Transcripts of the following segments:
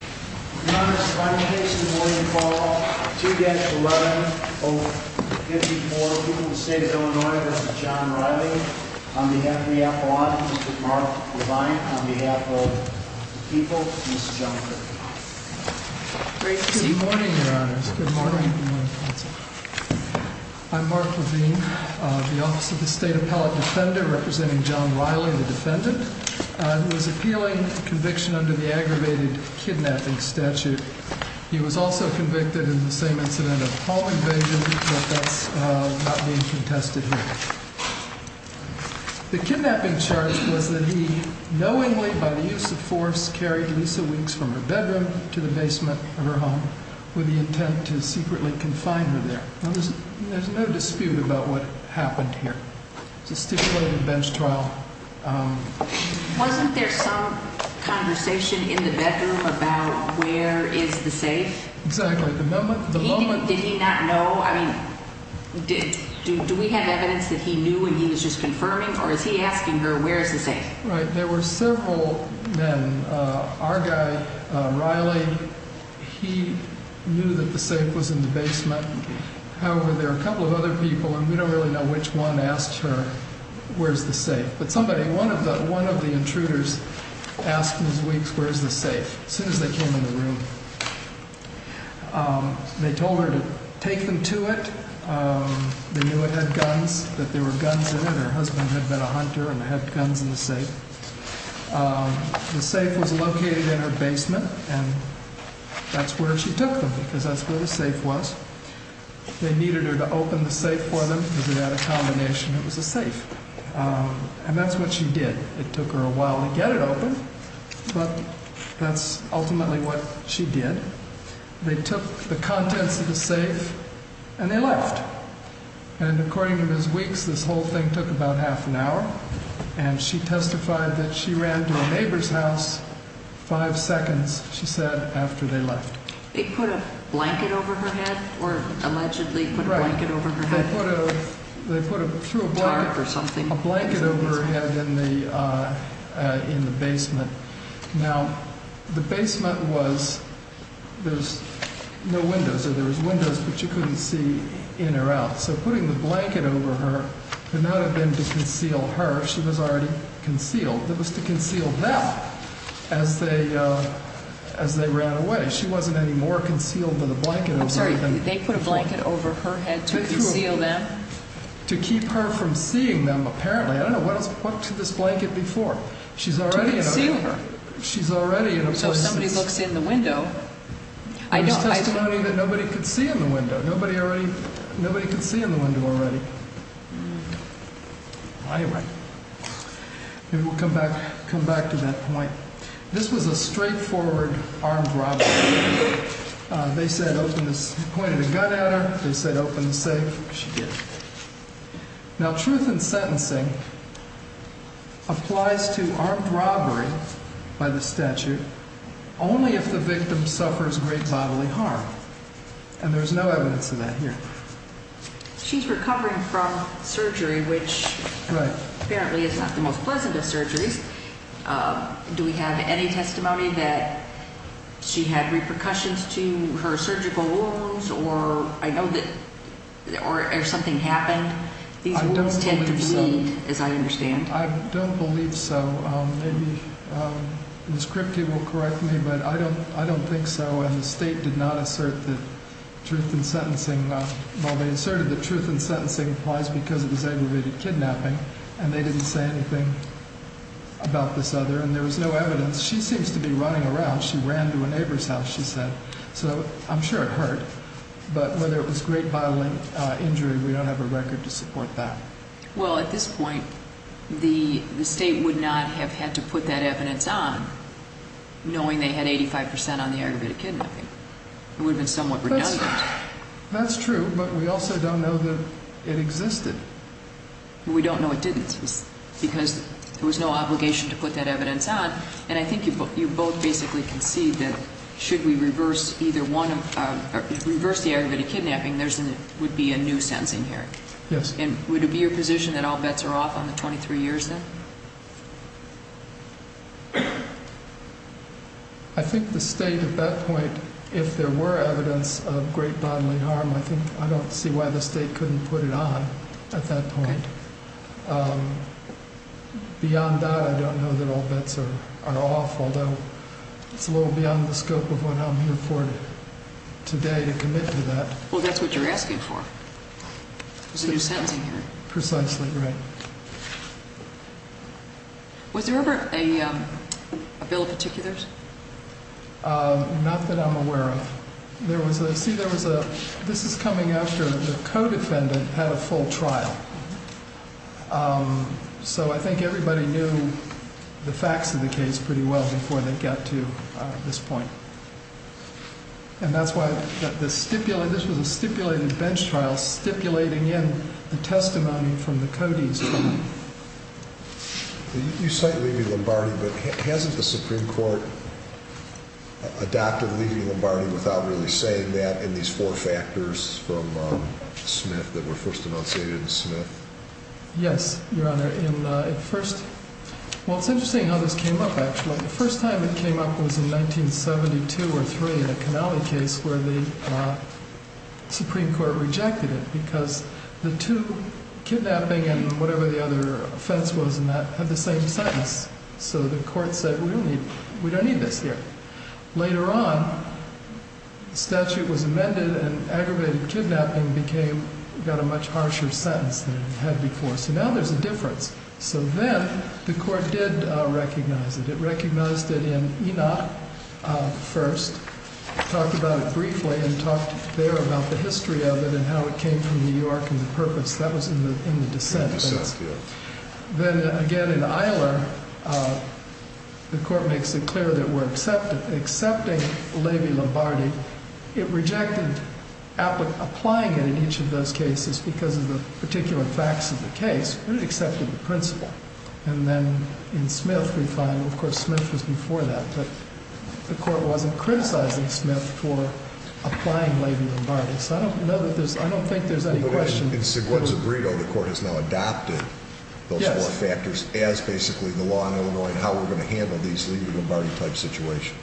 Good morning, your honors. Good morning. I'm Mark Levine, the Office of the State Appellate Defender, representing John Riley, the defendant, who is appealing conviction under the aggravated kidnapping statute. He was also convicted in the same incident of home invasion, but that's not being contested here. The kidnapping charge was that he knowingly, by the use of force, carried Lisa Weeks from her bedroom to the basement of her home with the intent to secretly confine her there. There's no dispute about what happened here. It's a stipulated conversation in the bedroom about where is the safe. Did he not know? I mean, do we have evidence that he knew and he was just confirming, or is he asking her, where is the safe? Right. There were several men, our guy, Riley, he knew that the safe was in the basement. However, there are a couple of other people, and we don't really know which one asked her, where is the safe? But somebody, one of the intruders asked Ms. Weeks, where is the safe, as soon as they came in the room. They told her to take them to it. They knew it had guns, that there were guns in it. Her husband had been a hunter and had guns in the safe. The safe was located in her basement, and that's where she took them, because that's where the safe was. They needed her to open the safe for them, because they had a combination, it was a safe. And that's what she did. It took her a while to get it open, but that's ultimately what she did. They took the contents of the safe, and they left. And according to Ms. Weeks, this whole thing took about half an hour, and she testified that she ran to a neighbor's house five seconds, she said, after they left. They put a blanket over her head, or allegedly put a blanket over her head? Right. They put a, through a blanket, a blanket over her head in the basement. Now, the basement was, there's no windows, or there was windows, but you couldn't see in or out. So putting the blanket over her could not have been to conceal her, she was already concealed. It was to conceal them, as they, as they ran away. She wasn't any more concealed than the blanket over her head. I'm sorry, they put a blanket over her head to conceal them? To keep her from seeing them, apparently. I don't know, what to this blanket before? To conceal her. She's already in a place. So if somebody looks in the window, I don't. That's testimony that nobody could see in the window. Nobody already, nobody could see in the window already. Anyway, maybe we'll come back, come back to that point. This was a straightforward armed robbery. They said, opened the, pointed a gun at her, they said open the safe, she did. Now, truth in sentencing applies to armed robbery by the statute, only if the victim suffers great bodily harm. And there's no evidence of that here. She's recovering from surgery, which apparently is not the most pleasant of surgeries. Do we have any testimony that she had repercussions to her surgical wounds, or I know that, or something happened? These wounds tend to bleed, as I understand. I don't believe so. Maybe Ms. Kripke will correct me, but I don't, I don't think so. And the state did not assert that truth in sentencing, well, they asserted that truth in sentencing applies because it was aggravated kidnapping, and they didn't say anything about this other, and there was no evidence. She seems to be running around. She ran to a neighbor's house, she said. So I'm sure it hurt, but whether it was great bodily injury, we don't have a record to support that. Well, at this point, the state would not have had to put that evidence on, knowing they had 85% on the aggravated kidnapping. It would have been somewhat redundant. That's true, but we also don't know that it existed. We don't know it didn't, because there was no obligation to put that evidence on, and I think you both basically concede that should we reverse either one, reverse the aggravated kidnapping, there would be a new sentencing here. Yes. And would it be your position that all bets are off on the 23 years then? I think the state at that point, if there were evidence of great bodily harm, I think I don't see why the state couldn't put it on at that point. Beyond that, I don't know that all bets are off, although it's a little beyond the scope of what I'm here for today to commit to that. Well, that's what you're asking for. There's a new sentencing here. Precisely, right. Was there ever a bill of particulars? Not that I'm aware of. See, this is coming after the co-defendant had a full trial, so I think everybody knew the facts of the case pretty well before they got to this point. And that's why this was a stipulated bench trial, stipulating in the testimony from the Cody's trial. You cite Levy-Lombardi, but hasn't the Supreme Court adopted Levy-Lombardi without really saying that in these four factors from Smith that were first enunciated in Smith? Yes, Your Honor. Well, it's interesting how this came up, actually. The first time it came up was in 1972 or 1973 in the Canale case where the Supreme Court rejected it because the two, kidnapping and whatever the other offense was in that, had the same sentence. So the court said, we don't need this here. Later on, the statute was amended and aggravated kidnapping got a much harsher sentence than it had before. So now there's a difference. So then the court did recognize it. It recognized it in Enoch first, talked about it briefly and talked there about the history of it and how it came from New York and the purpose. That was in the dissent case. Then again in Eiler, the court makes it clear that we're accepting Levy-Lombardi. It rejected applying it in each of those cases because of the particular facts of the case, but it accepted the principle. And then in Smith, we find, of course, Smith was before that, but the court wasn't criticizing Smith for applying Levy-Lombardi. So I don't know that there's, I don't think there's any question. But in Segueda-Zubrido, the court has now adopted those four factors as basically the law in Illinois and how we're going to handle these Levy-Lombardi type situations.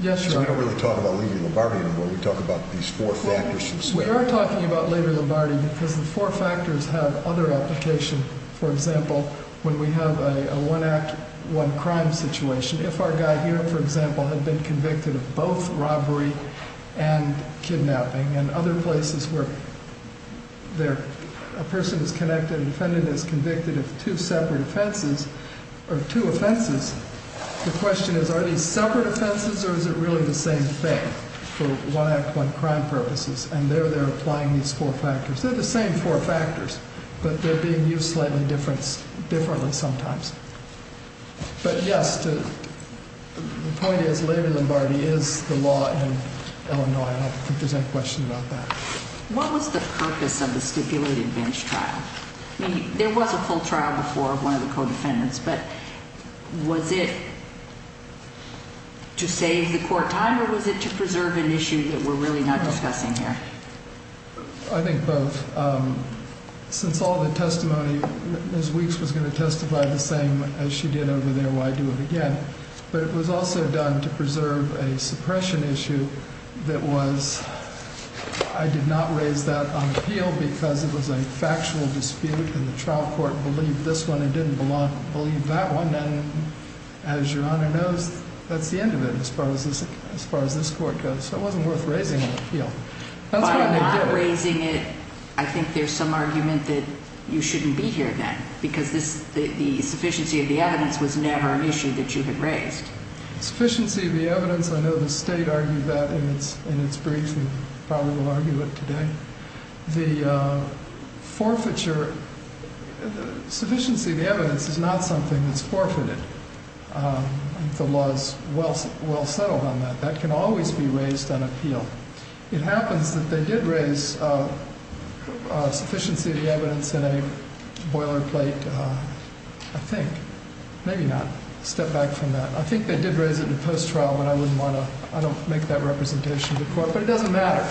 Yes, Your Honor. We don't really talk about Levy-Lombardi anymore. We talk about these four factors. We are talking about Levy-Lombardi because the four factors have other application. For example, when we have a one-act, one-crime situation, if our guy here, for example, had been convicted of both robbery and kidnapping and other places where a person is connected, if a defendant is convicted of two separate offenses or two offenses, the question is, are these separate offenses or is it really the same thing for one-act, one-crime purposes? And there, they're applying these four factors. They're the same four factors, but they're being used slightly differently sometimes. But yes, the point is, Levy-Lombardi is the law in Illinois. I don't think there's any question about that. What was the purpose of the stipulated bench trial? I mean, there was a full trial before of one of the co-defendants, but was it to save the court time or was it to preserve an issue that we're really not discussing here? I think both. Since all the testimony Ms. Weeks was going to testify the same as she did over there, why do it again? But it was also done to preserve a suppression issue that was—I did not raise that on appeal because it was a factual dispute and the trial court believed this one and didn't believe that one. And as Your Honor knows, that's the end of it as far as this court goes, so it wasn't worth raising it on appeal. If they're raising it, I think there's some argument that you shouldn't be here then because the sufficiency of the evidence was never an issue that you had raised. Sufficiency of the evidence, I know the state argued that in its brief and probably will argue it today. The forfeiture—sufficiency of the evidence is not something that's forfeited. The law is well settled on that. That can always be raised on appeal. It happens that they did raise sufficiency of the evidence in a boilerplate, I think. Maybe not. Step back from that. I think they did raise it in post-trial, but I wouldn't want to—I don't make that representation to court. But it doesn't matter.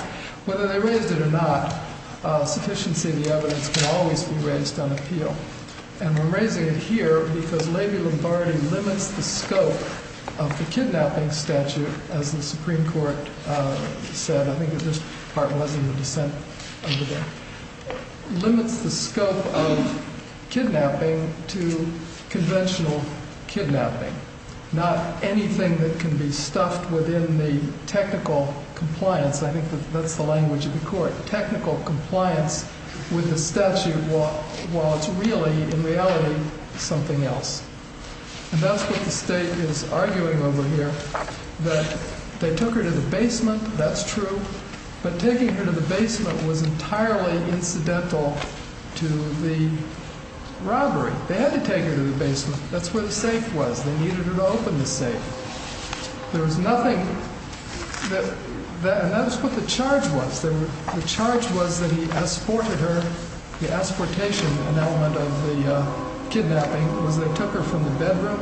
Whether they raised it or not, sufficiency of the evidence can always be raised on appeal. And we're raising it here because Levy-Lombardi limits the scope of the kidnapping statute, as the Supreme Court said. I think this part was in the dissent under there. Limits the scope of kidnapping to conventional kidnapping, not anything that can be stuffed within the technical compliance. I think that's the language of the court. Technical compliance with the statute while it's really, in reality, something else. And that's what the State is arguing over here, that they took her to the basement. That's true. But taking her to the basement was entirely incidental to the robbery. They had to take her to the basement. That's where the safe was. They needed her to open the safe. There was nothing—and that's what the charge was. The charge was that he asported her—the asportation, an element of the kidnapping, was they took her from the bedroom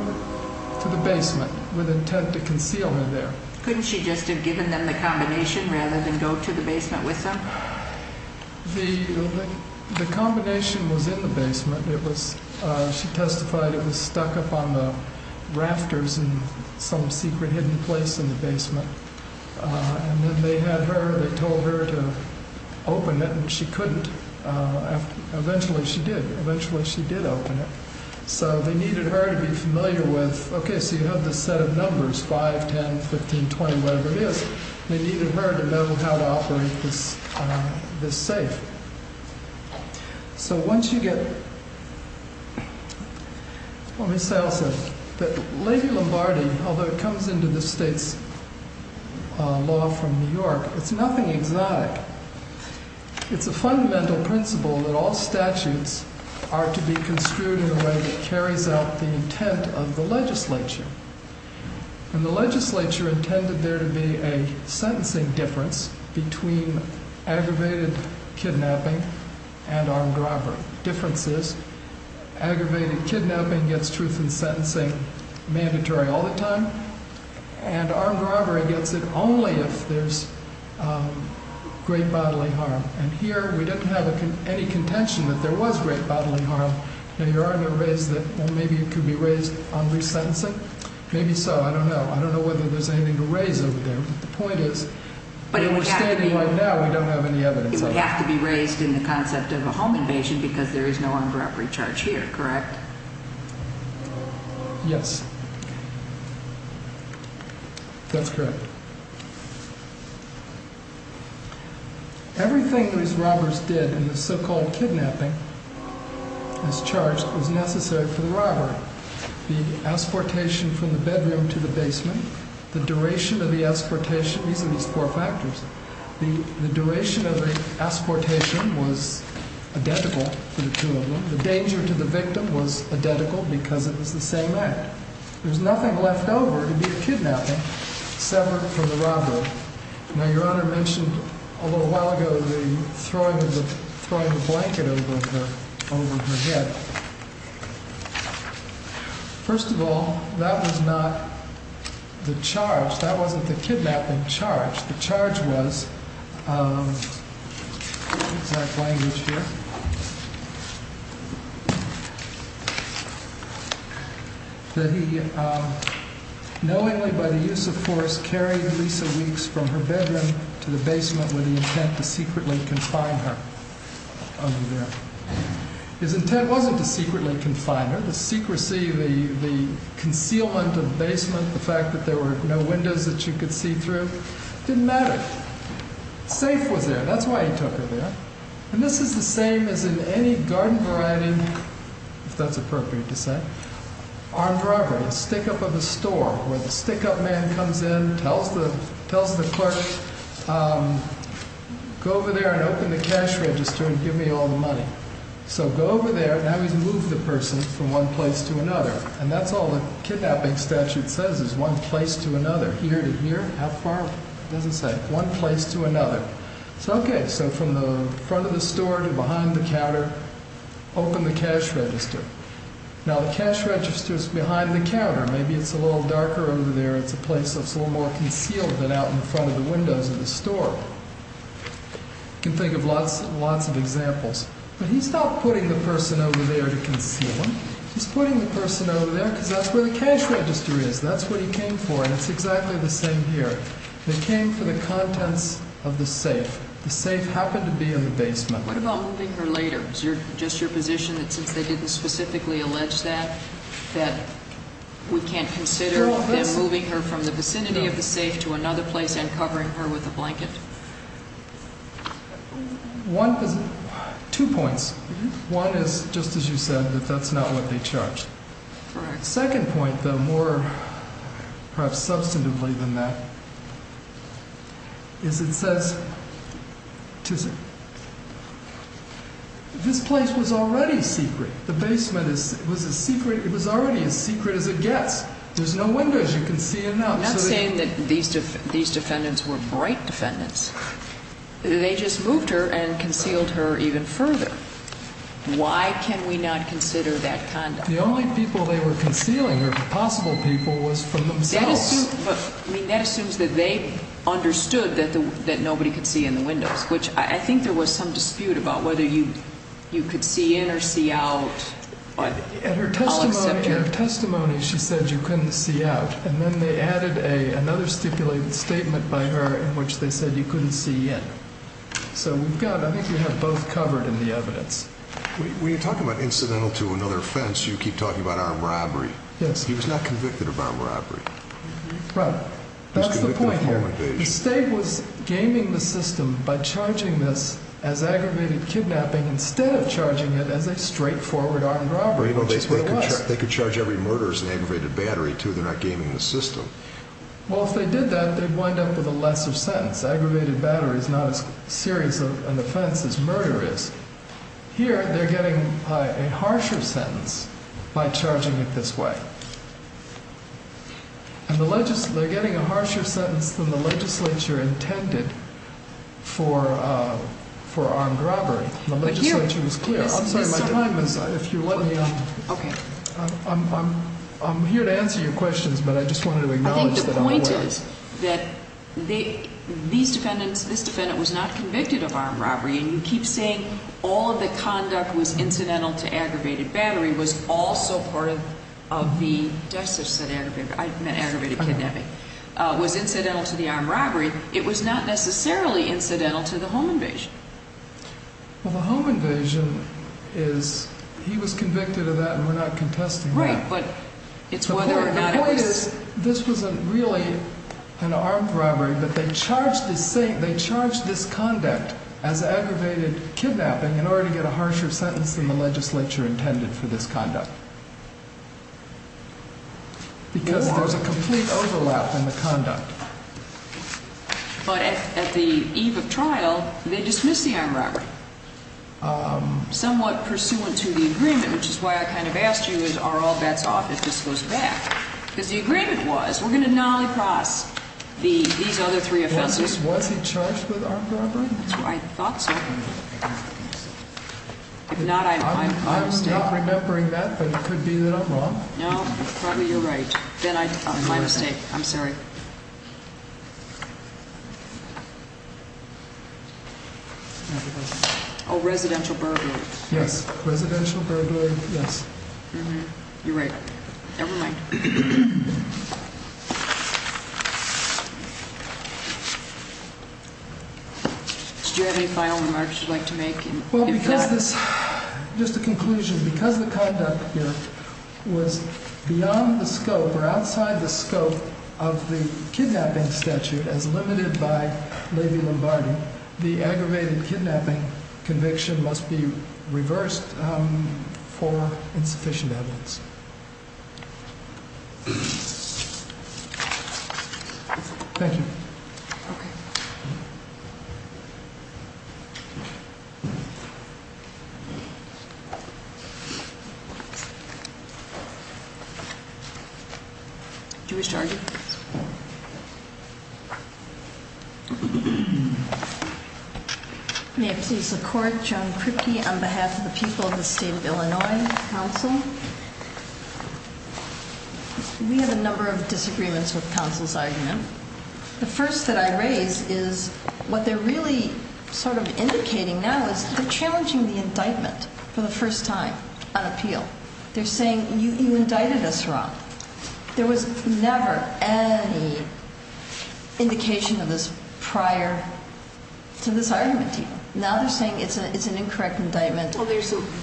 to the basement with intent to conceal her there. Couldn't she just have given them the combination rather than go to the basement with them? The combination was in the basement. It was—she testified it was stuck up on the rafters in some secret hidden place in the basement. And then they had her—they told her to open it, and she couldn't. Eventually she did. Eventually she did open it. So they needed her to be familiar with, okay, so you have this set of numbers, 5, 10, 15, 20, whatever it is. They needed her to know how to operate this safe. So once you get—let me say also that Lady Lombardi, although it comes into the state's law from New York, it's nothing exotic. It's a fundamental principle that all statutes are to be construed in a way that carries out the intent of the legislature. And the legislature intended there to be a sentencing difference between aggravated kidnapping and armed robbery. Difference is aggravated kidnapping gets truth in sentencing mandatory all the time, and armed robbery gets it only if there's great bodily harm. And here we didn't have any contention that there was great bodily harm. Now, your Honor raised that, well, maybe it could be raised on resentencing. Maybe so. I don't know. I don't know whether there's anything to raise over there. But the point is— But it would have to be— —we're standing right now, we don't have any evidence of it. It would have to be raised in the concept of a home invasion because there is no armed robbery charge here, correct? Yes. That's correct. Everything these robbers did in the so-called kidnapping as charged was necessary for the robbery. The exportation from the bedroom to the basement, the duration of the exportation—these are these four factors. The duration of the exportation was identical for the two of them. The danger to the victim was identical because it was the same act. There's nothing left over to be a kidnapping separate from the robbery. Now, your Honor mentioned a little while ago the throwing the blanket over her head. First of all, that was not the charge. That wasn't the kidnapping charge. The charge was—exact language here. He knowingly, by the use of force, carried Lisa Weeks from her bedroom to the basement with the intent to secretly confine her over there. His intent wasn't to secretly confine her. The secrecy, the concealment of the basement, the fact that there were no windows that she could see through, didn't matter. The safe was there. That's why he took her there. And this is the same as in any garden variety, if that's appropriate to say, armed robbery. A stick-up of a store where the stick-up man comes in, tells the clerk, go over there and open the cash register and give me all the money. So go over there. Now he's moved the person from one place to another. And that's all the kidnapping statute says is one place to another. Here to here, how far? It doesn't say. One place to another. Okay, so from the front of the store to behind the counter, open the cash register. Now the cash register's behind the counter. Maybe it's a little darker over there. It's a place that's a little more concealed than out in front of the windows of the store. You can think of lots and lots of examples. But he's not putting the person over there to conceal them. He's putting the person over there because that's where the cash register is. That's what he came for. And it's exactly the same here. They came for the contents of the safe. The safe happened to be in the basement. What about moving her later? Is just your position that since they didn't specifically allege that, that we can't consider them moving her from the vicinity of the safe to another place and covering her with a blanket? Two points. One is, just as you said, that that's not what they charged. Correct. The second point, though, more perhaps substantively than that, is it says this place was already secret. The basement was a secret. It was already as secret as it gets. There's no windows. You can see enough. I'm not saying that these defendants were bright defendants. They just moved her and concealed her even further. Why can we not consider that conduct? The only people they were concealing were possible people was from themselves. That assumes that they understood that nobody could see in the windows, which I think there was some dispute about whether you could see in or see out. In her testimony, she said you couldn't see out. And then they added another stipulated statement by her in which they said you couldn't see in. So I think we have both covered in the evidence. When you talk about incidental to another offense, you keep talking about armed robbery. Yes. He was not convicted of armed robbery. Right. That's the point here. He was convicted of home invasion. The state was gaming the system by charging this as aggravated kidnapping instead of charging it as a straightforward armed robbery, which is what it was. They could charge every murder as an aggravated battery, too. They're not gaming the system. Well, if they did that, they'd wind up with a lesser sentence. Aggravated battery is not as serious an offense as murder is. Here they're getting a harsher sentence by charging it this way. And they're getting a harsher sentence than the legislature intended for armed robbery. The legislature was clear. I'm sorry. Mr. Hyman, if you let me. Okay. I'm here to answer your questions, but I just wanted to acknowledge that otherwise. That these defendants, this defendant was not convicted of armed robbery, and you keep saying all of the conduct was incidental to aggravated battery, was also part of the, I said aggravated, I meant aggravated kidnapping, was incidental to the armed robbery. It was not necessarily incidental to the home invasion. Well, the home invasion is, he was convicted of that, and we're not contesting that. Right, but it's whether or not it was. This wasn't really an armed robbery, but they charged this conduct as aggravated kidnapping in order to get a harsher sentence than the legislature intended for this conduct. Because there's a complete overlap in the conduct. But at the eve of trial, they dismiss the armed robbery. Somewhat pursuant to the agreement, which is why I kind of asked you, are all bets off? It just goes back. Because the agreement was, we're going to nolly-cross these other three offenses. Was he charged with armed robbery? I thought so. If not, I'm probably mistaken. I'm not remembering that, but it could be that I'm wrong. No, probably you're right. My mistake. I'm sorry. Oh, residential burglary. Yes. You're right. Never mind. Do you have any final remarks you'd like to make? Well, because this, just a conclusion. Because the conduct here was beyond the scope or outside the scope of the kidnapping statute as limited by Levy-Lombardi, the aggravated kidnapping conviction must be reversed. for insufficient evidence. Thank you. Okay. Do you wish to argue? May it please the Court, Joan Kripke on behalf of the people of the State of Illinois Council. We have a number of disagreements with counsel's argument. The first that I raise is what they're really sort of indicating now is they're challenging the indictment for the first time on appeal. They're saying, you indicted us wrong. There was never any indication of this prior to this argument, even. Now they're saying it's an incorrect indictment. Well,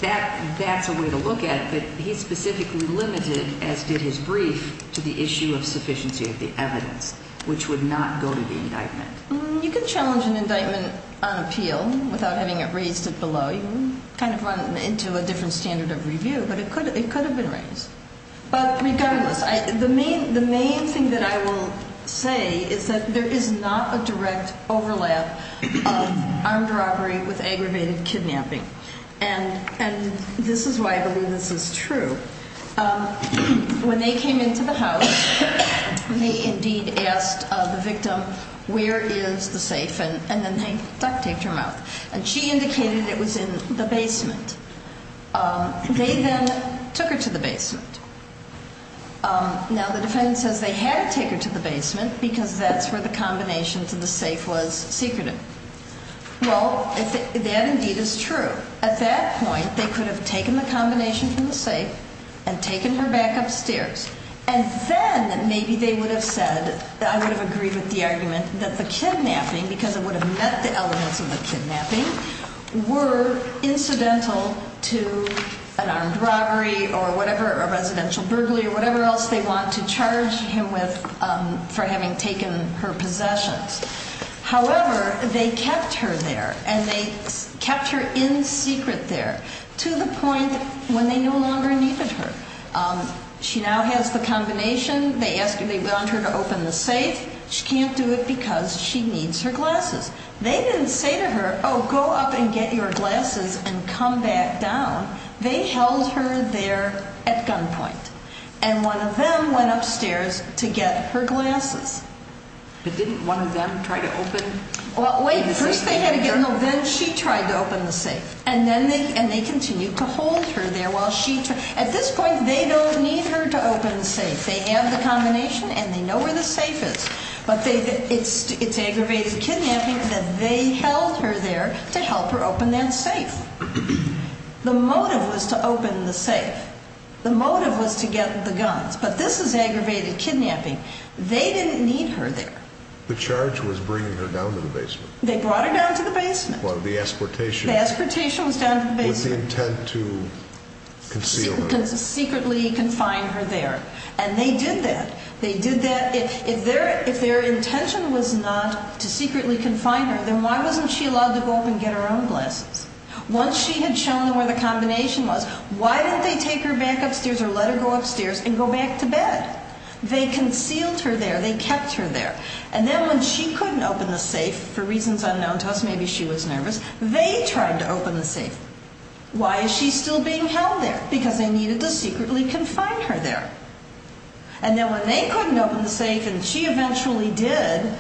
that's a way to look at it. But he specifically limited, as did his brief, to the issue of sufficiency of the evidence, which would not go to the indictment. You can challenge an indictment on appeal without having it raised below. You kind of run it into a different standard of review. But it could have been raised. But regardless, the main thing that I will say is that there is not a direct overlap of armed robbery with aggravated kidnapping. And this is why I believe this is true. When they came into the house, they indeed asked the victim, where is the safe? And then they duct-taped her mouth. And she indicated it was in the basement. They then took her to the basement. Now, the defendant says they had to take her to the basement because that's where the combination to the safe was secreted. Well, that indeed is true. At that point, they could have taken the combination from the safe and taken her back upstairs. And then maybe they would have said that I would have agreed with the argument that the kidnapping, because it would have met the elements of the kidnapping, were incidental to an armed robbery or whatever, a residential burglary or whatever else they want to charge him with for having taken her possessions. However, they kept her there. And they kept her in secret there to the point when they no longer needed her. She now has the combination. They want her to open the safe. She can't do it because she needs her glasses. They didn't say to her, oh, go up and get your glasses and come back down. They held her there at gunpoint. And one of them went upstairs to get her glasses. But didn't one of them try to open the safe? Well, wait. First they had to get in the vent. She tried to open the safe. And they continued to hold her there while she tried. At this point, they don't need her to open the safe. They have the combination and they know where the safe is. But it's aggravated kidnapping that they held her there to help her open that safe. The motive was to open the safe. The motive was to get the guns. But this is aggravated kidnapping. They didn't need her there. The charge was bringing her down to the basement. They brought her down to the basement. Well, the exportation. The exportation was down to the basement. What was the intent to conceal her? Secretly confine her there. And they did that. They did that. If their intention was not to secretly confine her, then why wasn't she allowed to go up and get her own glasses? Once she had shown them where the combination was, why didn't they take her back upstairs or let her go upstairs and go back to bed? They concealed her there. They kept her there. And then when she couldn't open the safe, for reasons unknown to us, maybe she was nervous, they tried to open the safe. Why is she still being held there? Because they needed to secretly confine her there. And then when they couldn't open the safe and she eventually did,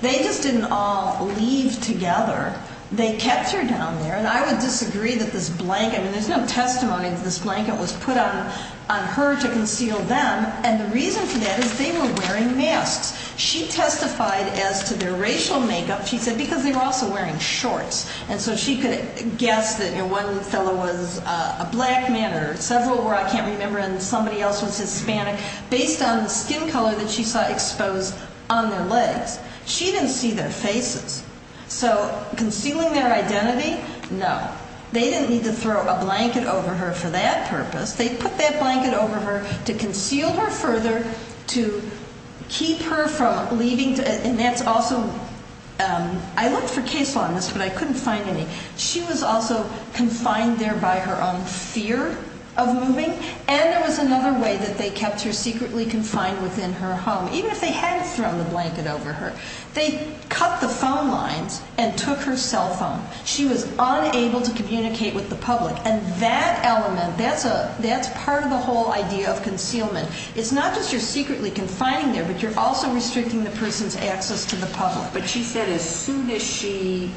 they just didn't all leave together. They kept her down there. And I would disagree that this blanket, I mean, there's no testimony that this blanket was put on her to conceal them. And the reason for that is they were wearing masks. She testified as to their racial makeup, she said, because they were also wearing shorts. And so she could guess that one fellow was a black man or several were, I can't remember, and somebody else was Hispanic, based on the skin color that she saw exposed on their legs. She didn't see their faces. So concealing their identity? No. They didn't need to throw a blanket over her for that purpose. They put that blanket over her to conceal her further, to keep her from leaving. And that's also, I looked for case law on this, but I couldn't find any. She was also confined there by her own fear of moving. And there was another way that they kept her secretly confined within her home, even if they hadn't thrown the blanket over her. They cut the phone lines and took her cell phone. She was unable to communicate with the public. And that element, that's part of the whole idea of concealment. It's not just you're secretly confining there, but you're also restricting the person's access to the public. But she said as soon as she,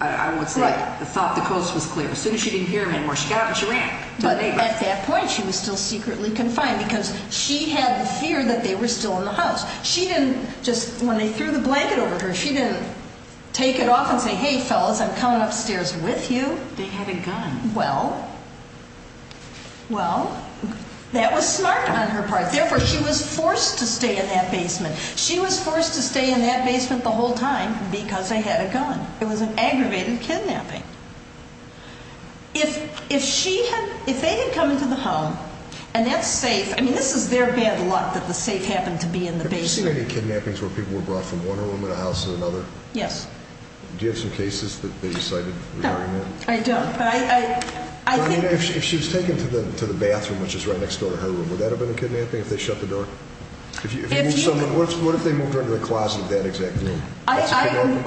I would say, thought the coast was clear, as soon as she didn't hear her anymore, she got up and she ran. But at that point she was still secretly confined because she had the fear that they were still in the house. She didn't just, when they threw the blanket over her, she didn't take it off and say, hey, fellas, I'm coming upstairs with you. But they had a gun. Well, well, that was smart on her part. Therefore, she was forced to stay in that basement. She was forced to stay in that basement the whole time because they had a gun. It was an aggravated kidnapping. If she had, if they had come into the home and that safe, I mean, this is their bad luck that the safe happened to be in the basement. Have you seen any kidnappings where people were brought from one room to the house to another? Yes. Do you have some cases that they decided to bury them? I don't, but I, I, I think. If she was taken to the, to the bathroom, which is right next door to her room, would that have been a kidnapping if they shut the door? What if they moved her into the closet of that exact room?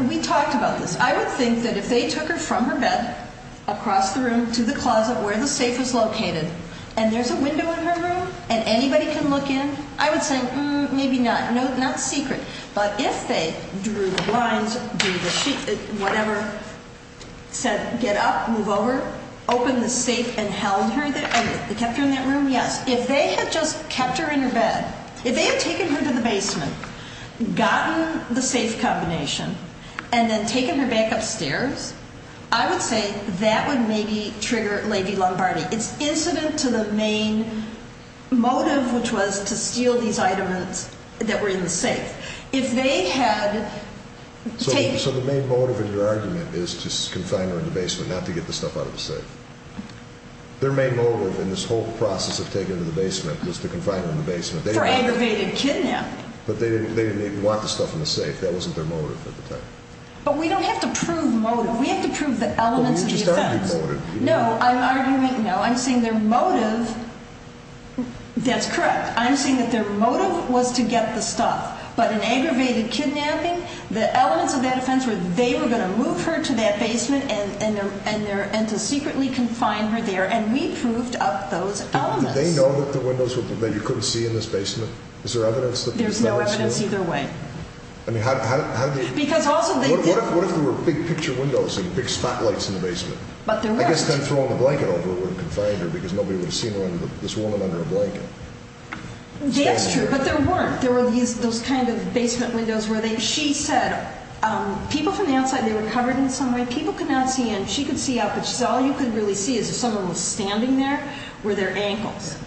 We talked about this. I would think that if they took her from her bed across the room to the closet where the safe was located and there's a window in her room and anybody can look in, I would say maybe not, not secret. But if they drew the blinds, drew the sheet, whatever, said get up, move over, open the safe and held her, kept her in that room, yes. If they had just kept her in her bed, if they had taken her to the basement, gotten the safe combination, and then taken her back upstairs, I would say that would maybe trigger Lady Lombardi. It's incident to the main motive, which was to steal these items that were in the safe. If they had taken. So, so the main motive in your argument is to confine her in the basement, not to get the stuff out of the safe. Their main motive in this whole process of taking her to the basement was to confine her in the basement. For aggravated kidnapping. But they didn't, they didn't even want the stuff in the safe. That wasn't their motive at the time. But we don't have to prove motive. We have to prove the elements of the offense. Well, you just argued motive. No, I'm arguing. No, I'm saying their motive. That's correct. I'm saying that their motive was to get the stuff. But an aggravated kidnapping, the elements of that offense where they were going to move her to that basement and and and there and to secretly confine her there. And we proved up those elements. They know that the windows were that you couldn't see in this basement. Is there evidence that there's no evidence either way? I mean, how do you because also, what if there were big picture windows and big spotlights in the basement? But I guess they're throwing a blanket over where it can find her because nobody would have seen this woman under a blanket. That's true. But there weren't. There were these those kind of basement windows where they she said people from the outside. They were covered in some way. People could not see. And she could see out. But she's all you could really see is if someone was standing there where their ankles.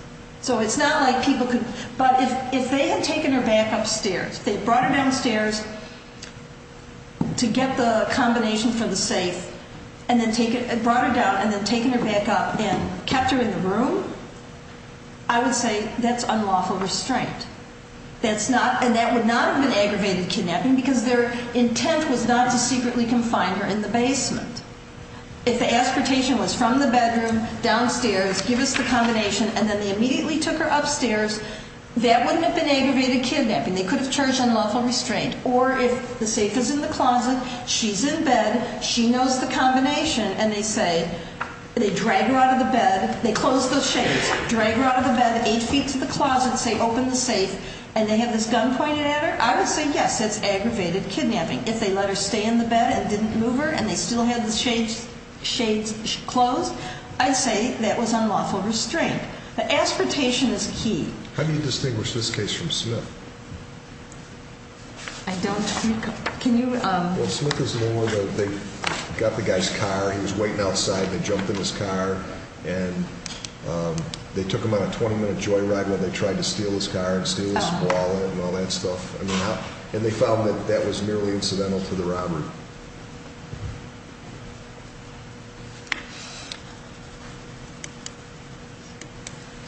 So it's not like people could. But if if they had taken her back upstairs, they brought her downstairs. To get the combination for the safe and then take it and brought it down and then taking her back up and kept her in the room. I would say that's unlawful restraint. That's not and that would not have been aggravated kidnapping because their intent was not to secretly confine her in the basement. If the expectation was from the bedroom downstairs, give us the combination and then they immediately took her upstairs. That wouldn't have been aggravated kidnapping. They could have charged unlawful restraint. Or if the safe is in the closet, she's in bed. She knows the combination. And they say they drag her out of the bed. They close those shades, drag her out of the bed, eight feet to the closet, say, open the safe. And they have this gun pointed at her. I would say, yes, it's aggravated kidnapping. If they let her stay in the bed and didn't move her and they still had the shades, shades closed. I say that was unlawful restraint. Aspiration is key. How do you distinguish this case from slip? I don't think. Can you? They got the guy's car. He was waiting outside. They jumped in his car and they took him on a 20 minute joyride when they tried to steal his car and steal his wallet and all that stuff. And they found that that was merely incidental to the robbery.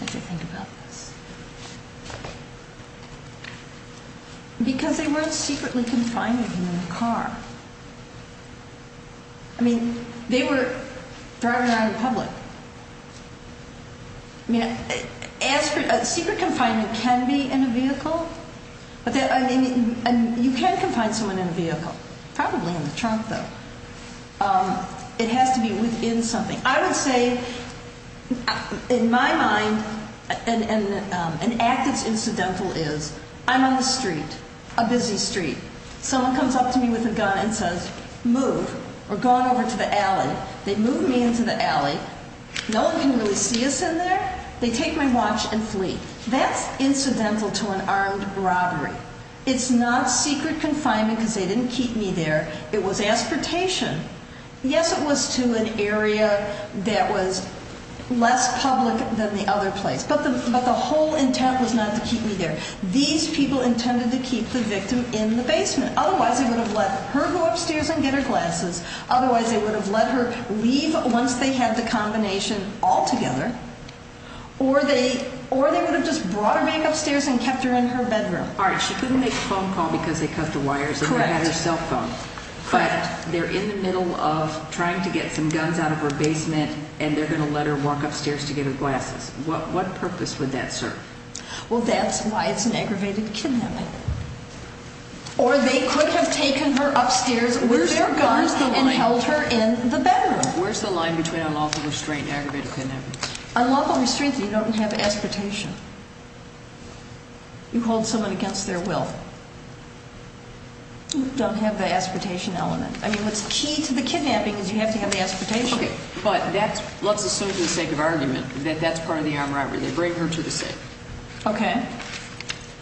As I think about this. Because they weren't secretly confining him in the car. I mean, they were driving around in public. I mean, secret confinement can be in a vehicle. You can confine someone in a vehicle, probably in the trunk, though. It has to be within something. I would say, in my mind, an act that's incidental is, I'm on the street, a busy street. Someone comes up to me with a gun and says, move. We're going over to the alley. They move me into the alley. No one can really see us in there. They take my watch and flee. That's incidental to an armed robbery. It's not secret confinement because they didn't keep me there. It was aspartation. Yes, it was to an area that was less public than the other place. But the whole intent was not to keep me there. These people intended to keep the victim in the basement. Otherwise, they would have let her go upstairs and get her glasses. Otherwise, they would have let her leave once they had the combination all together. Or they would have just brought her back upstairs and kept her in her bedroom. She couldn't make a phone call because they cut the wires and she had her cell phone. But they're in the middle of trying to get some guns out of her basement and they're going to let her walk upstairs to get her glasses. What purpose would that serve? Well, that's why it's an aggravated kidnapping. Or they could have taken her upstairs with their guns and held her in the bedroom. Where's the line between unlawful restraint and aggravated kidnapping? Unlawful restraint, you don't have aspartation. You hold someone against their will. You don't have the aspartation element. I mean, what's key to the kidnapping is you have to have the aspartation. Okay, but let's assume for the sake of argument that that's part of the armed robbery. They bring her to the safe. Okay.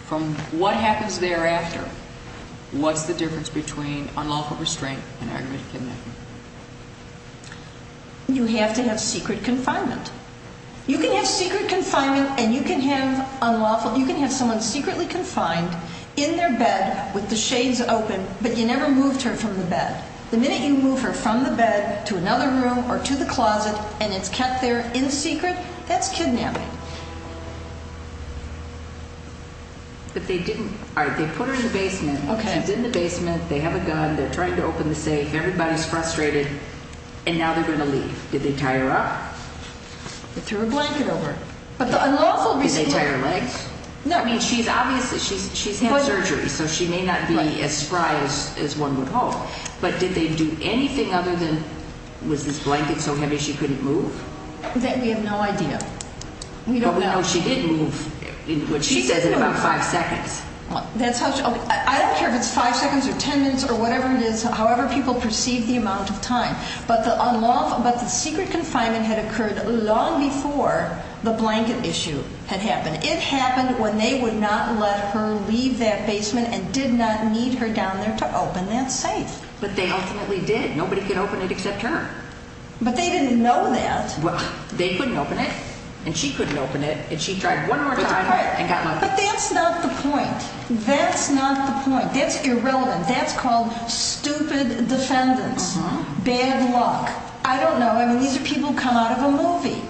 From what happens thereafter, what's the difference between unlawful restraint and aggravated kidnapping? You have to have secret confinement. You can have secret confinement and you can have unlawful. You can have someone secretly confined in their bed with the shades open, but you never moved her from the bed. The minute you move her from the bed to another room or to the closet and it's kept there in secret, that's kidnapping. But they didn't. All right, they put her in the basement. She's in the basement. They have a gun. They're trying to open the safe. Everybody's frustrated and now they're going to leave. Did they tie her up? They threw a blanket over her. But the unlawful restraint. Did they tie her legs? No. I mean, she's obviously, she's had surgery, so she may not be as spry as one would hope. But did they do anything other than, was this blanket so heavy she couldn't move? We have no idea. We don't know. But we know she did move, what she says, in about five seconds. I don't care if it's five seconds or ten minutes or whatever it is, however people perceive the amount of time. But the secret confinement had occurred long before the blanket issue had happened. It happened when they would not let her leave that basement and did not need her down there to open that safe. But they ultimately did. Nobody could open it except her. But they didn't know that. They couldn't open it and she couldn't open it and she tried one more time and got locked up. But that's not the point. That's not the point. That's irrelevant. That's called stupid defendants. Bad luck. I don't know. I mean, these are people who come out of a movie.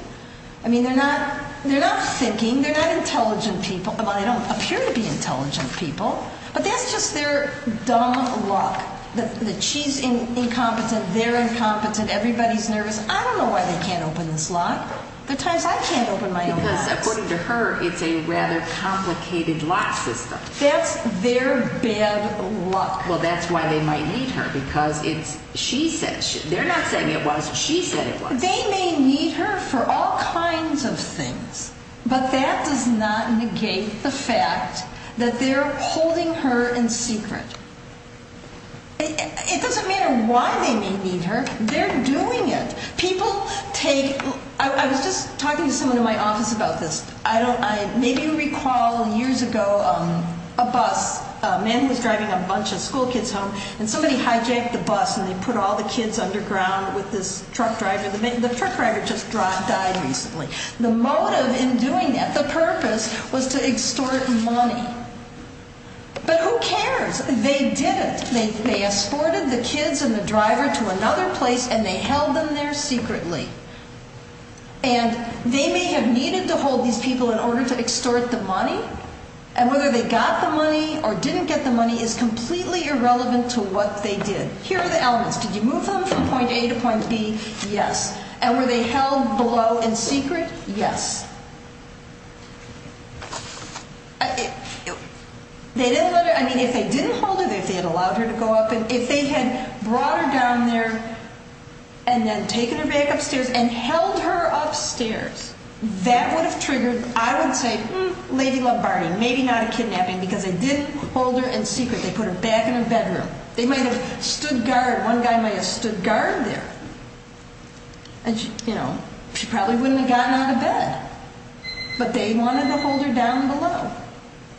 I mean, they're not thinking. They're not intelligent people. Well, they don't appear to be intelligent people. But that's just their dumb luck. That she's incompetent, they're incompetent, everybody's nervous. I don't know why they can't open this lock. There are times I can't open my own locks. Because according to her, it's a rather complicated lock system. That's their bad luck. Well, that's why they might need her. Because it's, she said, they're not saying it was, she said it was. They may need her for all kinds of things. But that does not negate the fact that they're holding her in secret. It doesn't matter why they may need her. They're doing it. People take, I was just talking to someone in my office about this. I don't, I maybe recall years ago, a bus, a man was driving a bunch of school kids home. And somebody hijacked the bus and they put all the kids underground with this truck driver. The truck driver just died recently. The motive in doing that, the purpose, was to extort money. But who cares? They did it. They escorted the kids and the driver to another place and they held them there secretly. And they may have needed to hold these people in order to extort the money. And whether they got the money or didn't get the money is completely irrelevant to what they did. Here are the elements. Did you move them from point A to point B? Yes. And were they held below in secret? Yes. They didn't let her, I mean, if they didn't hold her, if they had allowed her to go up, if they had brought her down there and then taken her back upstairs and held her upstairs, that would have triggered, I would say, Lady Lombardi, maybe not a kidnapping, because they didn't hold her in secret. They put her back in her bedroom. They might have stood guard, one guy might have stood guard there. And, you know, she probably wouldn't have gotten out of bed. But they wanted to hold her down below.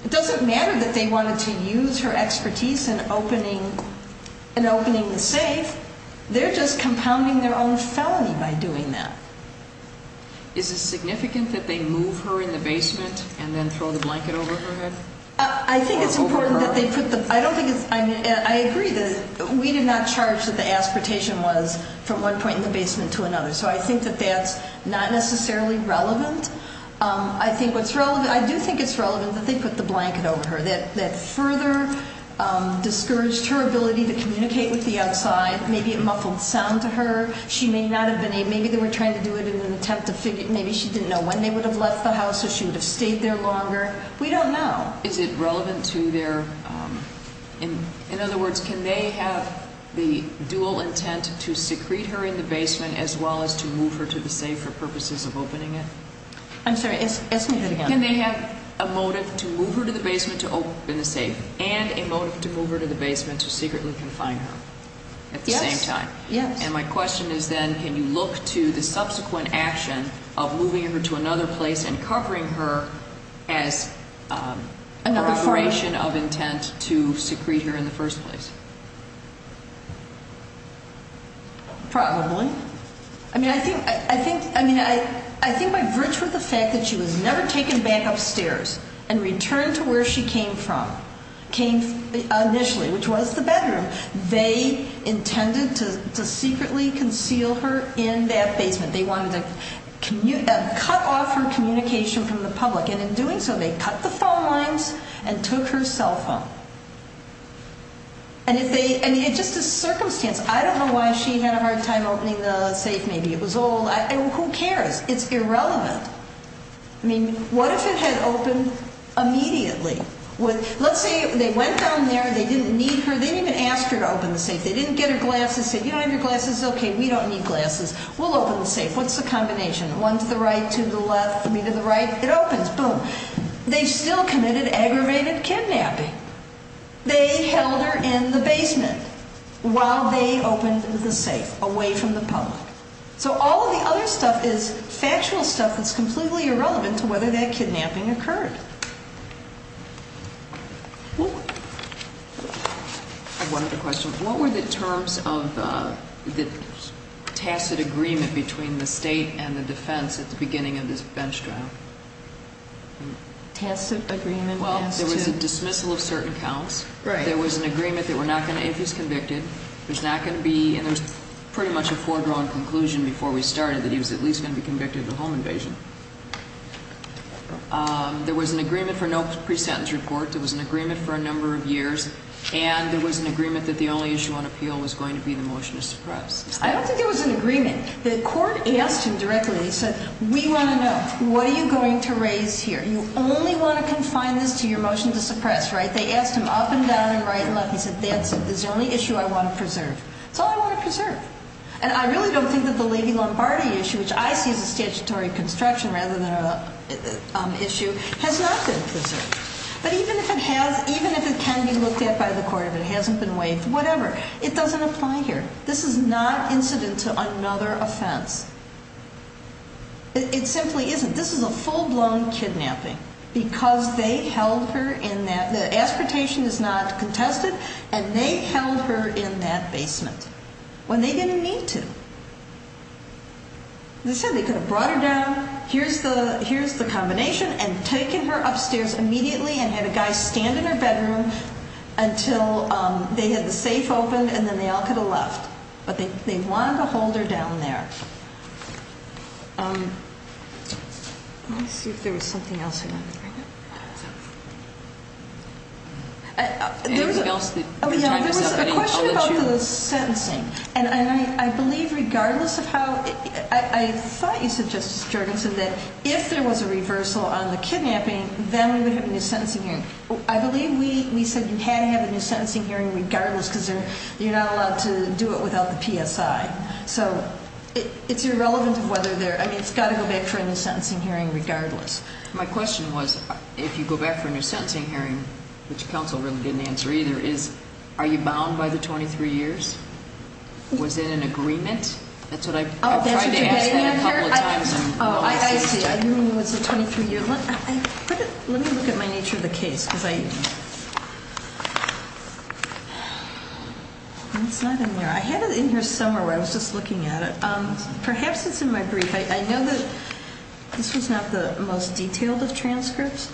It doesn't matter that they wanted to use her expertise in opening the safe. They're just compounding their own felony by doing that. Is it significant that they move her in the basement and then throw the blanket over her head? I think it's important that they put the, I don't think it's, I mean, I agree that we did not charge that the aspiration was from one point in the basement to another. So I think that that's not necessarily relevant. I think what's relevant, I do think it's relevant that they put the blanket over her. That further discouraged her ability to communicate with the outside. Maybe it muffled sound to her. She may not have been able, maybe they were trying to do it in an attempt to figure, maybe she didn't know when they would have left the house or she would have stayed there longer. We don't know. Is it relevant to their, in other words, can they have the dual intent to secrete her in the basement as well as to move her to the safe for purposes of opening it? I'm sorry, ask me that again. Can they have a motive to move her to the basement to open the safe and a motive to move her to the basement to secretly confine her at the same time? Yes. And my question is then, can you look to the subsequent action of moving her to another place and covering her as corroboration of intent to secrete her in the first place? Probably. I mean, I think by virtue of the fact that she was never taken back upstairs and returned to where she came from, came initially, which was the bedroom, they intended to secretly conceal her in that basement. They wanted to cut off her communication from the public and in doing so they cut the phone lines and took her cell phone. And it's just a circumstance. I don't know why she had a hard time opening the safe. Maybe it was old. Who cares? It's irrelevant. I mean, what if it had opened immediately? Let's say they went down there, they didn't need her, they didn't even ask her to open the safe. They didn't get her glasses, say, you don't have your glasses? Okay, we don't need glasses. We'll open the safe. What's the combination? One to the right, two to the left, three to the right? It opens. Boom. They've still committed aggravated kidnapping. They held her in the basement while they opened the safe, away from the public. So all of the other stuff is factual stuff that's completely irrelevant to whether that kidnapping occurred. I have one other question. What were the terms of the tacit agreement between the state and the defense at the beginning of this bench trial? Well, there was a dismissal of certain counts. Right. There was an agreement that we're not going to, if he's convicted, there's not going to be, and there was pretty much a foregrown conclusion before we started that he was at least going to be convicted of a home invasion. There was an agreement for no pre-sentence report. There was an agreement for a number of years. And there was an agreement that the only issue on appeal was going to be the motion to suppress. I don't think there was an agreement. The court asked him directly, and he said, we want to know, what are you going to raise here? You only want to confine this to your motion to suppress, right? They asked him up and down and right and left. He said, that's it. That's the only issue I want to preserve. That's all I want to preserve. And I really don't think that the Levy-Lombardi issue, which I see as a statutory construction rather than an issue, has not been preserved. But even if it has, even if it can be looked at by the court, if it hasn't been waived, whatever, it doesn't apply here. This is not incident to another offense. It simply isn't. This is a full-blown kidnapping because they held her in that, the aspiration is not contested, and they held her in that basement when they didn't need to. They said they could have brought her down, here's the combination, and taken her upstairs immediately and had a guy stand in her bedroom until they had the safe open and then they all could have left. But they wanted to hold her down there. Let me see if there was something else you wanted to bring up. Anything else that your time is up? There was a question about the sentencing, and I believe regardless of how, I thought you said, Justice Jorgensen, that if there was a reversal on the kidnapping, then we would have a new sentencing hearing. I believe we said you had to have a new sentencing hearing regardless because you're not allowed to do it without the PSI. So, it's irrelevant of whether there, I mean, it's got to go back for a new sentencing hearing regardless. My question was, if you go back for a new sentencing hearing, which counsel really didn't answer either, is, are you bound by the 23 years? Was it an agreement? That's what I tried to ask that a couple of times. Oh, I see, you mean it was a 23 year, let me look at my nature of the case. It's not in there, I had it in here somewhere where I was just looking at it. Perhaps it's in my brief. I know that this was not the most detailed of transcripts.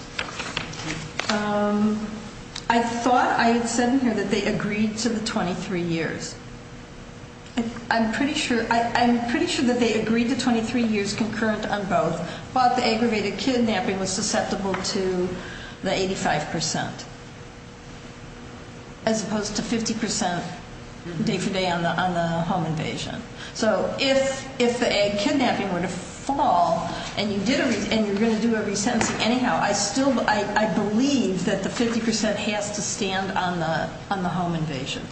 I thought I had said in here that they agreed to the 23 years. I'm pretty sure that they agreed to 23 years concurrent on both, but the aggravated kidnapping was susceptible to the 85%. As opposed to 50% day for day on the home invasion. So, if the kidnapping were to fall and you're going to do a resentencing anyhow, I believe that the 50% has to stand on the home invasion.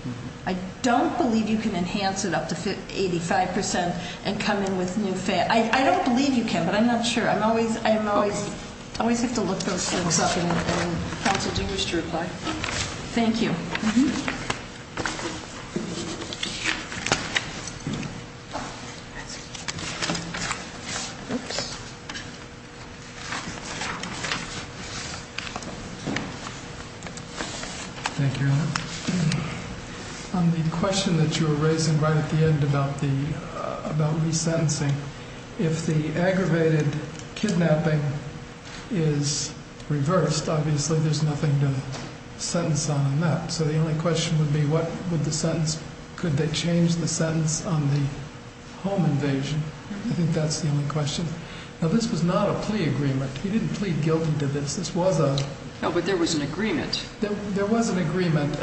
I don't believe you can enhance it up to 85% and come in with new... I don't believe you can, but I'm not sure. I always have to look those things up. Counsel, do you wish to reply? Thank you. Thank you. On the question that you were raising right at the end about resentencing, if the aggravated kidnapping is reversed, obviously there's nothing to sentence on that. So, the only question would be what would the sentence, could they change the sentence on the home invasion? I think that's the only question. Now, this was not a plea agreement. He didn't plead guilty to this. No, but there was an agreement. There was an agreement.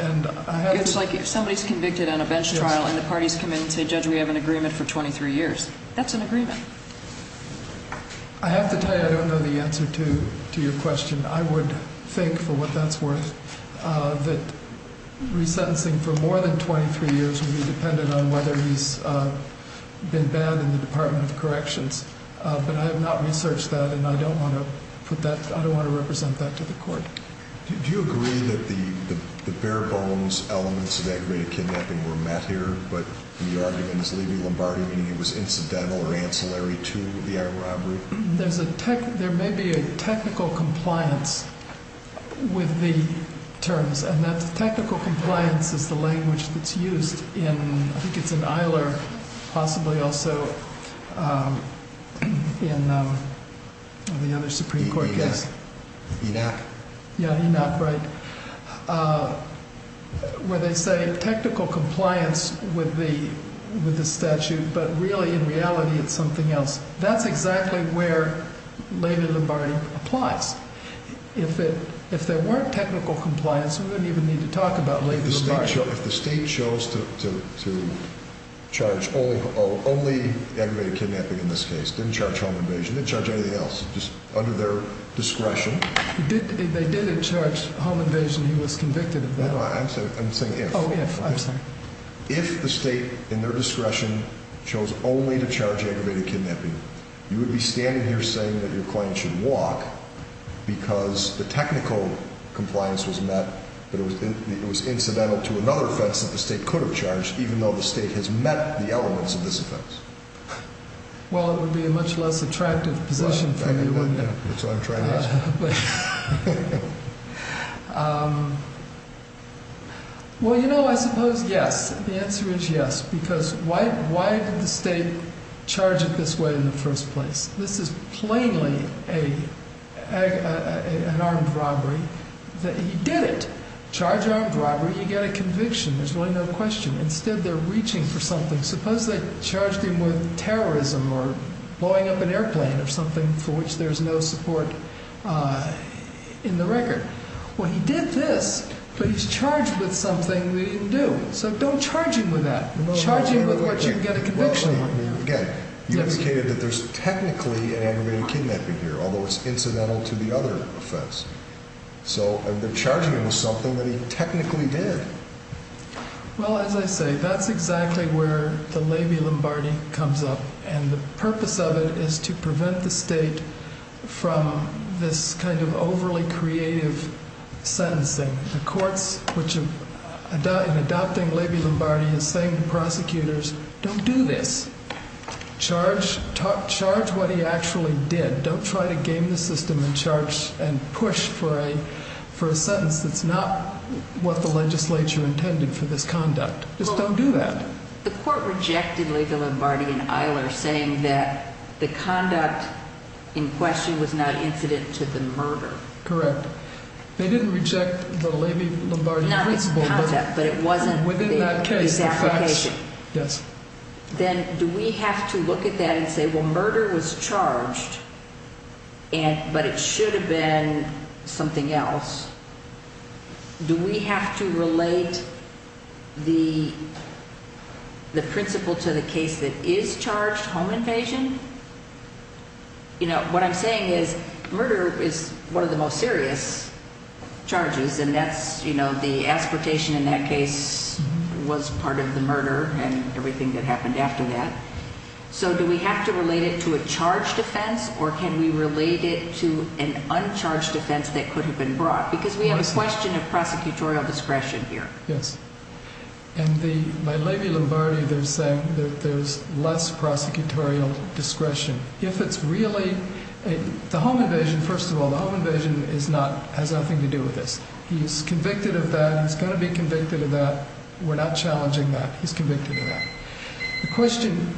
If somebody's convicted on a bench trial and the parties come in and say, Judge, we have an agreement for 23 years, that's an agreement. I have to tell you I don't know the answer to your question. I would think, for what that's worth, that resentencing for more than 23 years would be dependent on whether he's been banned in the Department of Corrections. But I have not researched that and I don't want to put that, I don't want to represent that to the court. Do you agree that the bare bones elements of aggravated kidnapping were met here, but your argument is leaving Lombardi meaning it was incidental or ancillary to the robbery? There may be a technical compliance with the terms, and that technical compliance is the language that's used in, I think it's in Eiler, possibly also in the other Supreme Court case. ENAC? Yeah, ENAC, right, where they say technical compliance with the statute, but really, in reality, it's something else. That's exactly where Lady Lombardi applies. If there weren't technical compliance, we wouldn't even need to talk about Lady Lombardi. If the state chose to charge only aggravated kidnapping in this case, didn't charge home invasion, didn't charge anything else, just under their discretion. They didn't charge home invasion, he was convicted of that. No, I'm saying if. If the state, in their discretion, chose only to charge aggravated kidnapping, you would be standing here saying that your client should walk because the technical compliance was met, but it was incidental to another offense that the state could have charged, even though the state has met the elements of this offense. Well, it would be a much less attractive position for you. That's what I'm trying to ask. Well, you know, I suppose yes, the answer is yes, because why did the state charge it this way in the first place? This is plainly an armed robbery. He did it. Charge armed robbery, you get a conviction, there's really no question. Instead, they're reaching for something. Suppose they charged him with terrorism or blowing up an airplane or something for which there's no support in the record. Well, he did this, but he's charged with something that he didn't do. So don't charge him with that. Charge him with what you can get a conviction on. I mean, again, you indicated that there's technically an aggravated kidnapping here, although it's incidental to the other offense. So they're charging him with something that he technically did. Well, as I say, that's exactly where the levy Lombardi comes up. And the purpose of it is to prevent the state from this kind of overly creative sentencing. The courts, in adopting levy Lombardi, are saying to prosecutors, don't do this. Charge what he actually did. Don't try to game the system and push for a sentence that's not what the legislature intended for this conduct. Just don't do that. The court rejected levy Lombardi and Eiler saying that the conduct in question was not incident to the murder. Correct. It wasn't the levy Lombardi principle, but within that case, the facts. Then do we have to look at that and say, well, murder was charged, but it should have been something else? Do we have to relate the principle to the case that is charged, home invasion? You know, what I'm saying is murder is one of the most serious charges. And that's, you know, the aspiration in that case was part of the murder and everything that happened after that. So do we have to relate it to a charge defense or can we relate it to an uncharged defense that could have been brought? Because we have a question of prosecutorial discretion here. Yes. And by levy Lombardi, they're saying that there's less prosecutorial discretion. If it's really the home invasion, first of all, the home invasion has nothing to do with this. He's convicted of that. He's going to be convicted of that. We're not challenging that. He's convicted of that. The question,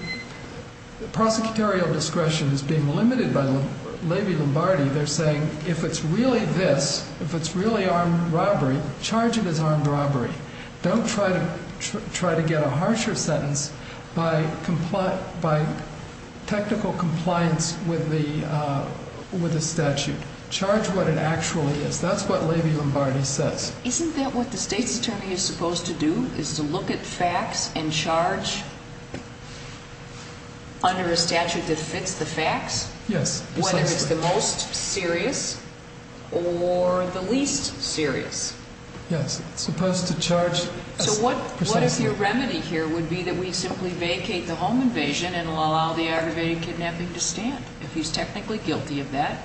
the prosecutorial discretion is being limited by levy Lombardi. They're saying if it's really this, if it's really armed robbery, charge it as armed robbery. Don't try to get a harsher sentence by technical compliance with the statute. Charge what it actually is. That's what levy Lombardi says. Isn't that what the state's attorney is supposed to do, is to look at facts and charge under a statute that fits the facts? Yes. Whether it's the most serious or the least serious. Yes. It's supposed to charge. So what if your remedy here would be that we simply vacate the home invasion and allow the aggravated kidnapping to stand? If he's technically guilty of that,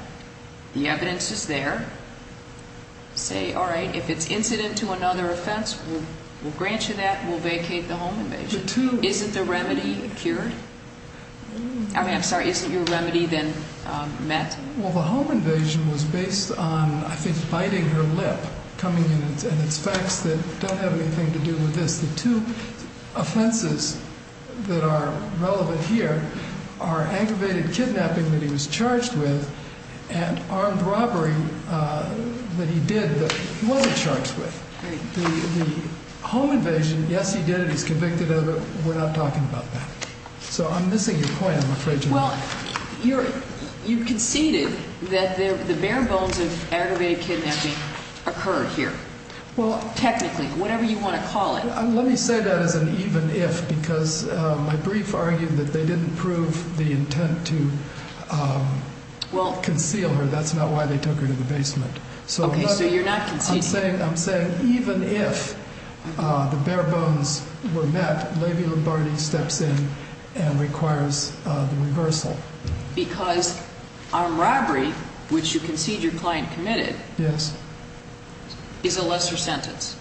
the evidence is there. Say, all right, if it's incident to another offense, we'll grant you that. We'll vacate the home invasion. Isn't the remedy cured? I mean, I'm sorry, isn't your remedy then met? Well, the home invasion was based on, I think, biting her lip. And it's facts that don't have anything to do with this. The two offenses that are relevant here are aggravated kidnapping that he was charged with and armed robbery that he did that he wasn't charged with. The home invasion, yes, he did it. He's convicted of it. We're not talking about that. So I'm missing your point, I'm afraid. Well, you conceded that the bare bones of aggravated kidnapping occurred here. Well, technically, whatever you want to call it. Let me say that as an even if, because my brief argued that they didn't prove the intent to conceal her. That's not why they took her to the basement. Okay, so you're not conceding. I'm saying even if the bare bones were met, Levy-Lombardi steps in and requires the reversal. Because armed robbery, which you concede your client committed, is a lesser sentence.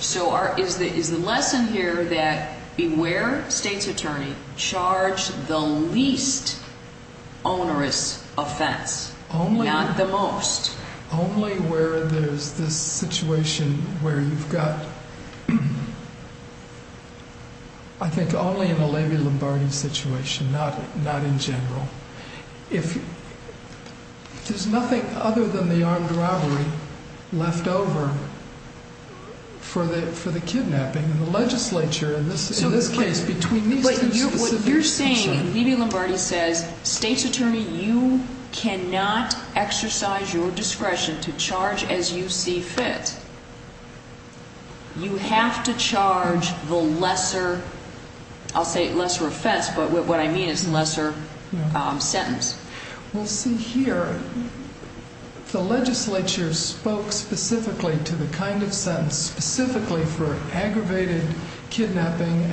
So is the lesson here that beware state's attorney, charge the least onerous offense, not the most. Only where there's this situation where you've got, I think only in a Levy-Lombardi situation, not in general. There's nothing other than the armed robbery left over for the kidnapping. In the legislature, in this case, between these two specific situations. What you're saying, Levy-Lombardi says, state's attorney, you cannot exercise your discretion to charge as you see fit. You have to charge the lesser, I'll say lesser offense, but what I mean is lesser sentence. Well, see here, the legislature spoke specifically to the kind of sentence, specifically for aggravated kidnapping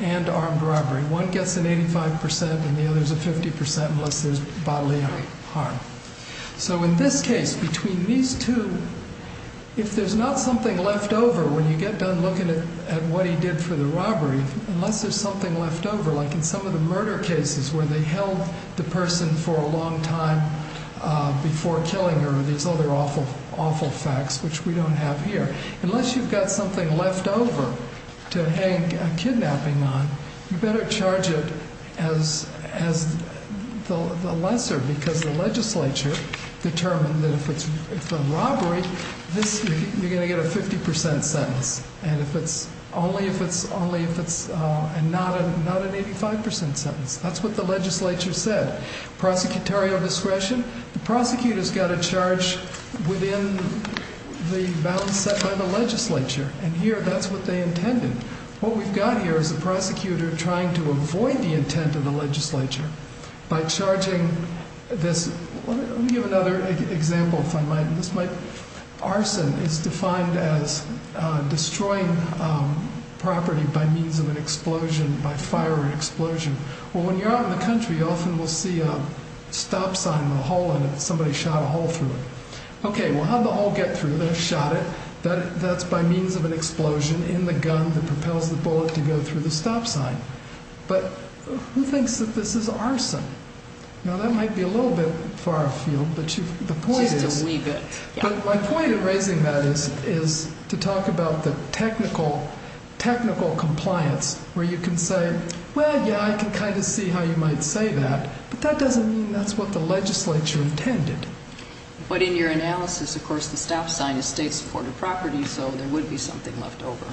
and armed robbery. One gets an 85% and the other's a 50% unless there's bodily harm. So in this case, between these two, if there's not something left over when you get done looking at what he did for the robbery. Unless there's something left over, like in some of the murder cases where they held the person for a long time before killing her. These other awful facts, which we don't have here. Unless you've got something left over to hang a kidnapping on, you better charge it as the lesser. Because the legislature determined that if it's a robbery, you're going to get a 50% sentence. And only if it's not an 85% sentence. That's what the legislature said. Prosecutorial discretion, the prosecutor's got to charge within the bounds set by the legislature. And here, that's what they intended. What we've got here is a prosecutor trying to avoid the intent of the legislature by charging this. Let me give another example if I might. Arson is defined as destroying property by means of an explosion, by fire or explosion. Well, when you're out in the country, you often will see a stop sign with a hole in it. Somebody shot a hole through it. Okay, well, how'd the hole get through? They shot it. That's by means of an explosion in the gun that propels the bullet to go through the stop sign. But who thinks that this is arson? Now, that might be a little bit far afield. Just a wee bit. But my point in raising that is to talk about the technical compliance where you can say, well, yeah, I can kind of see how you might say that. But that doesn't mean that's what the legislature intended. But in your analysis, of course, the stop sign is state-supported property, so there would be something left over.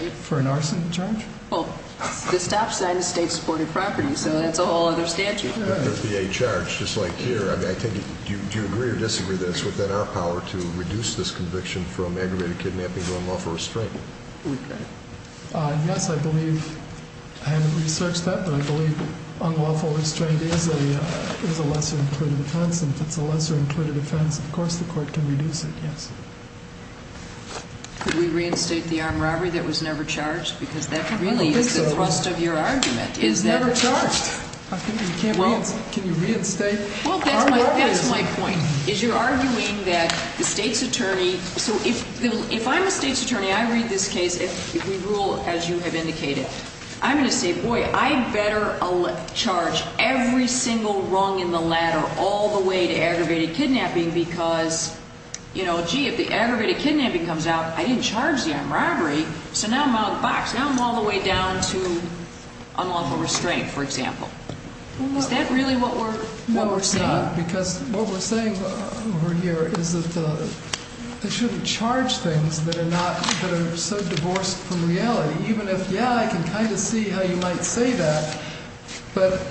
For an arson charge? Well, the stop sign is state-supported property, so that's a whole other statute. An FBA charge, just like here. Do you agree or disagree that it's within our power to reduce this conviction from aggravated kidnapping to unlawful restraint? Yes, I believe, I haven't researched that, but I believe unlawful restraint is a lesser-included offense. And if it's a lesser-included offense, of course the court can reduce it, yes. Could we reinstate the armed robbery that was never charged? Because that really is the thrust of your argument. It was never charged. Can you reinstate armed robberies? Well, that's my point, is you're arguing that the state's attorney, so if I'm a state's attorney, I read this case, if we rule as you have indicated, I'm going to say, boy, I better charge every single rung in the ladder all the way to aggravated kidnapping because, you know, gee, if the aggravated kidnapping comes out, I didn't charge the armed robbery, so now I'm out of the box. Now I'm all the way down to unlawful restraint, for example. Is that really what we're seeing? No, it's not, because what we're saying over here is that they shouldn't charge things that are not, that are so divorced from reality, even if, yeah, I can kind of see how you might say that, but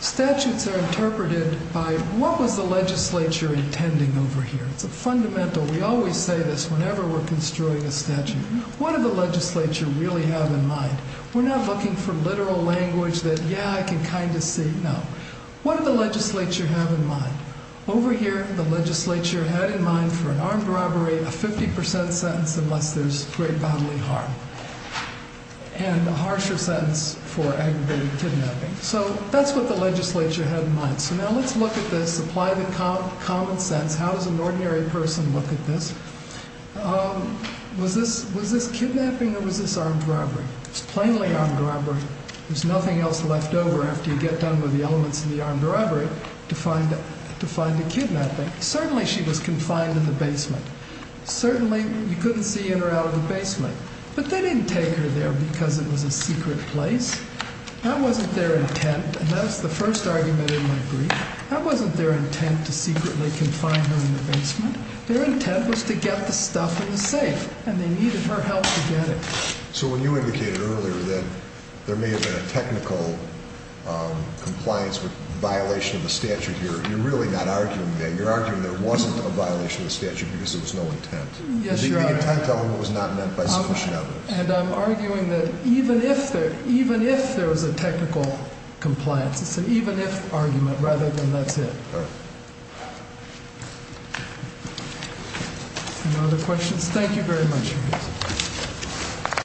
statutes are interpreted by what was the legislature intending over here? It's a fundamental, we always say this whenever we're construing a statute, what did the legislature really have in mind? We're not looking for literal language that, yeah, I can kind of see, no. What did the legislature have in mind? Over here, the legislature had in mind for an armed robbery, a 50% sentence unless there's great bodily harm, and a harsher sentence for aggravated kidnapping. So that's what the legislature had in mind. So now let's look at this, apply the common sense. How does an ordinary person look at this? Was this kidnapping or was this armed robbery? It was a plainly armed robbery. There's nothing else left over after you get done with the elements in the armed robbery to find a kidnapping. Certainly she was confined in the basement. Certainly you couldn't see in or out of the basement. But they didn't take her there because it was a secret place. That wasn't their intent, and that's the first argument in my brief. That wasn't their intent to secretly confine her in the basement. Their intent was to get the stuff in the safe, and they needed her help to get it. So when you indicated earlier that there may have been a technical compliance with violation of the statute here, you're really not arguing that. You're arguing there wasn't a violation of the statute because there was no intent. The intent element was not meant by sufficient evidence. And I'm arguing that even if there was a technical compliance, it's an even if argument rather than that's it. All right. Any other questions? Thank you very much. Thank you.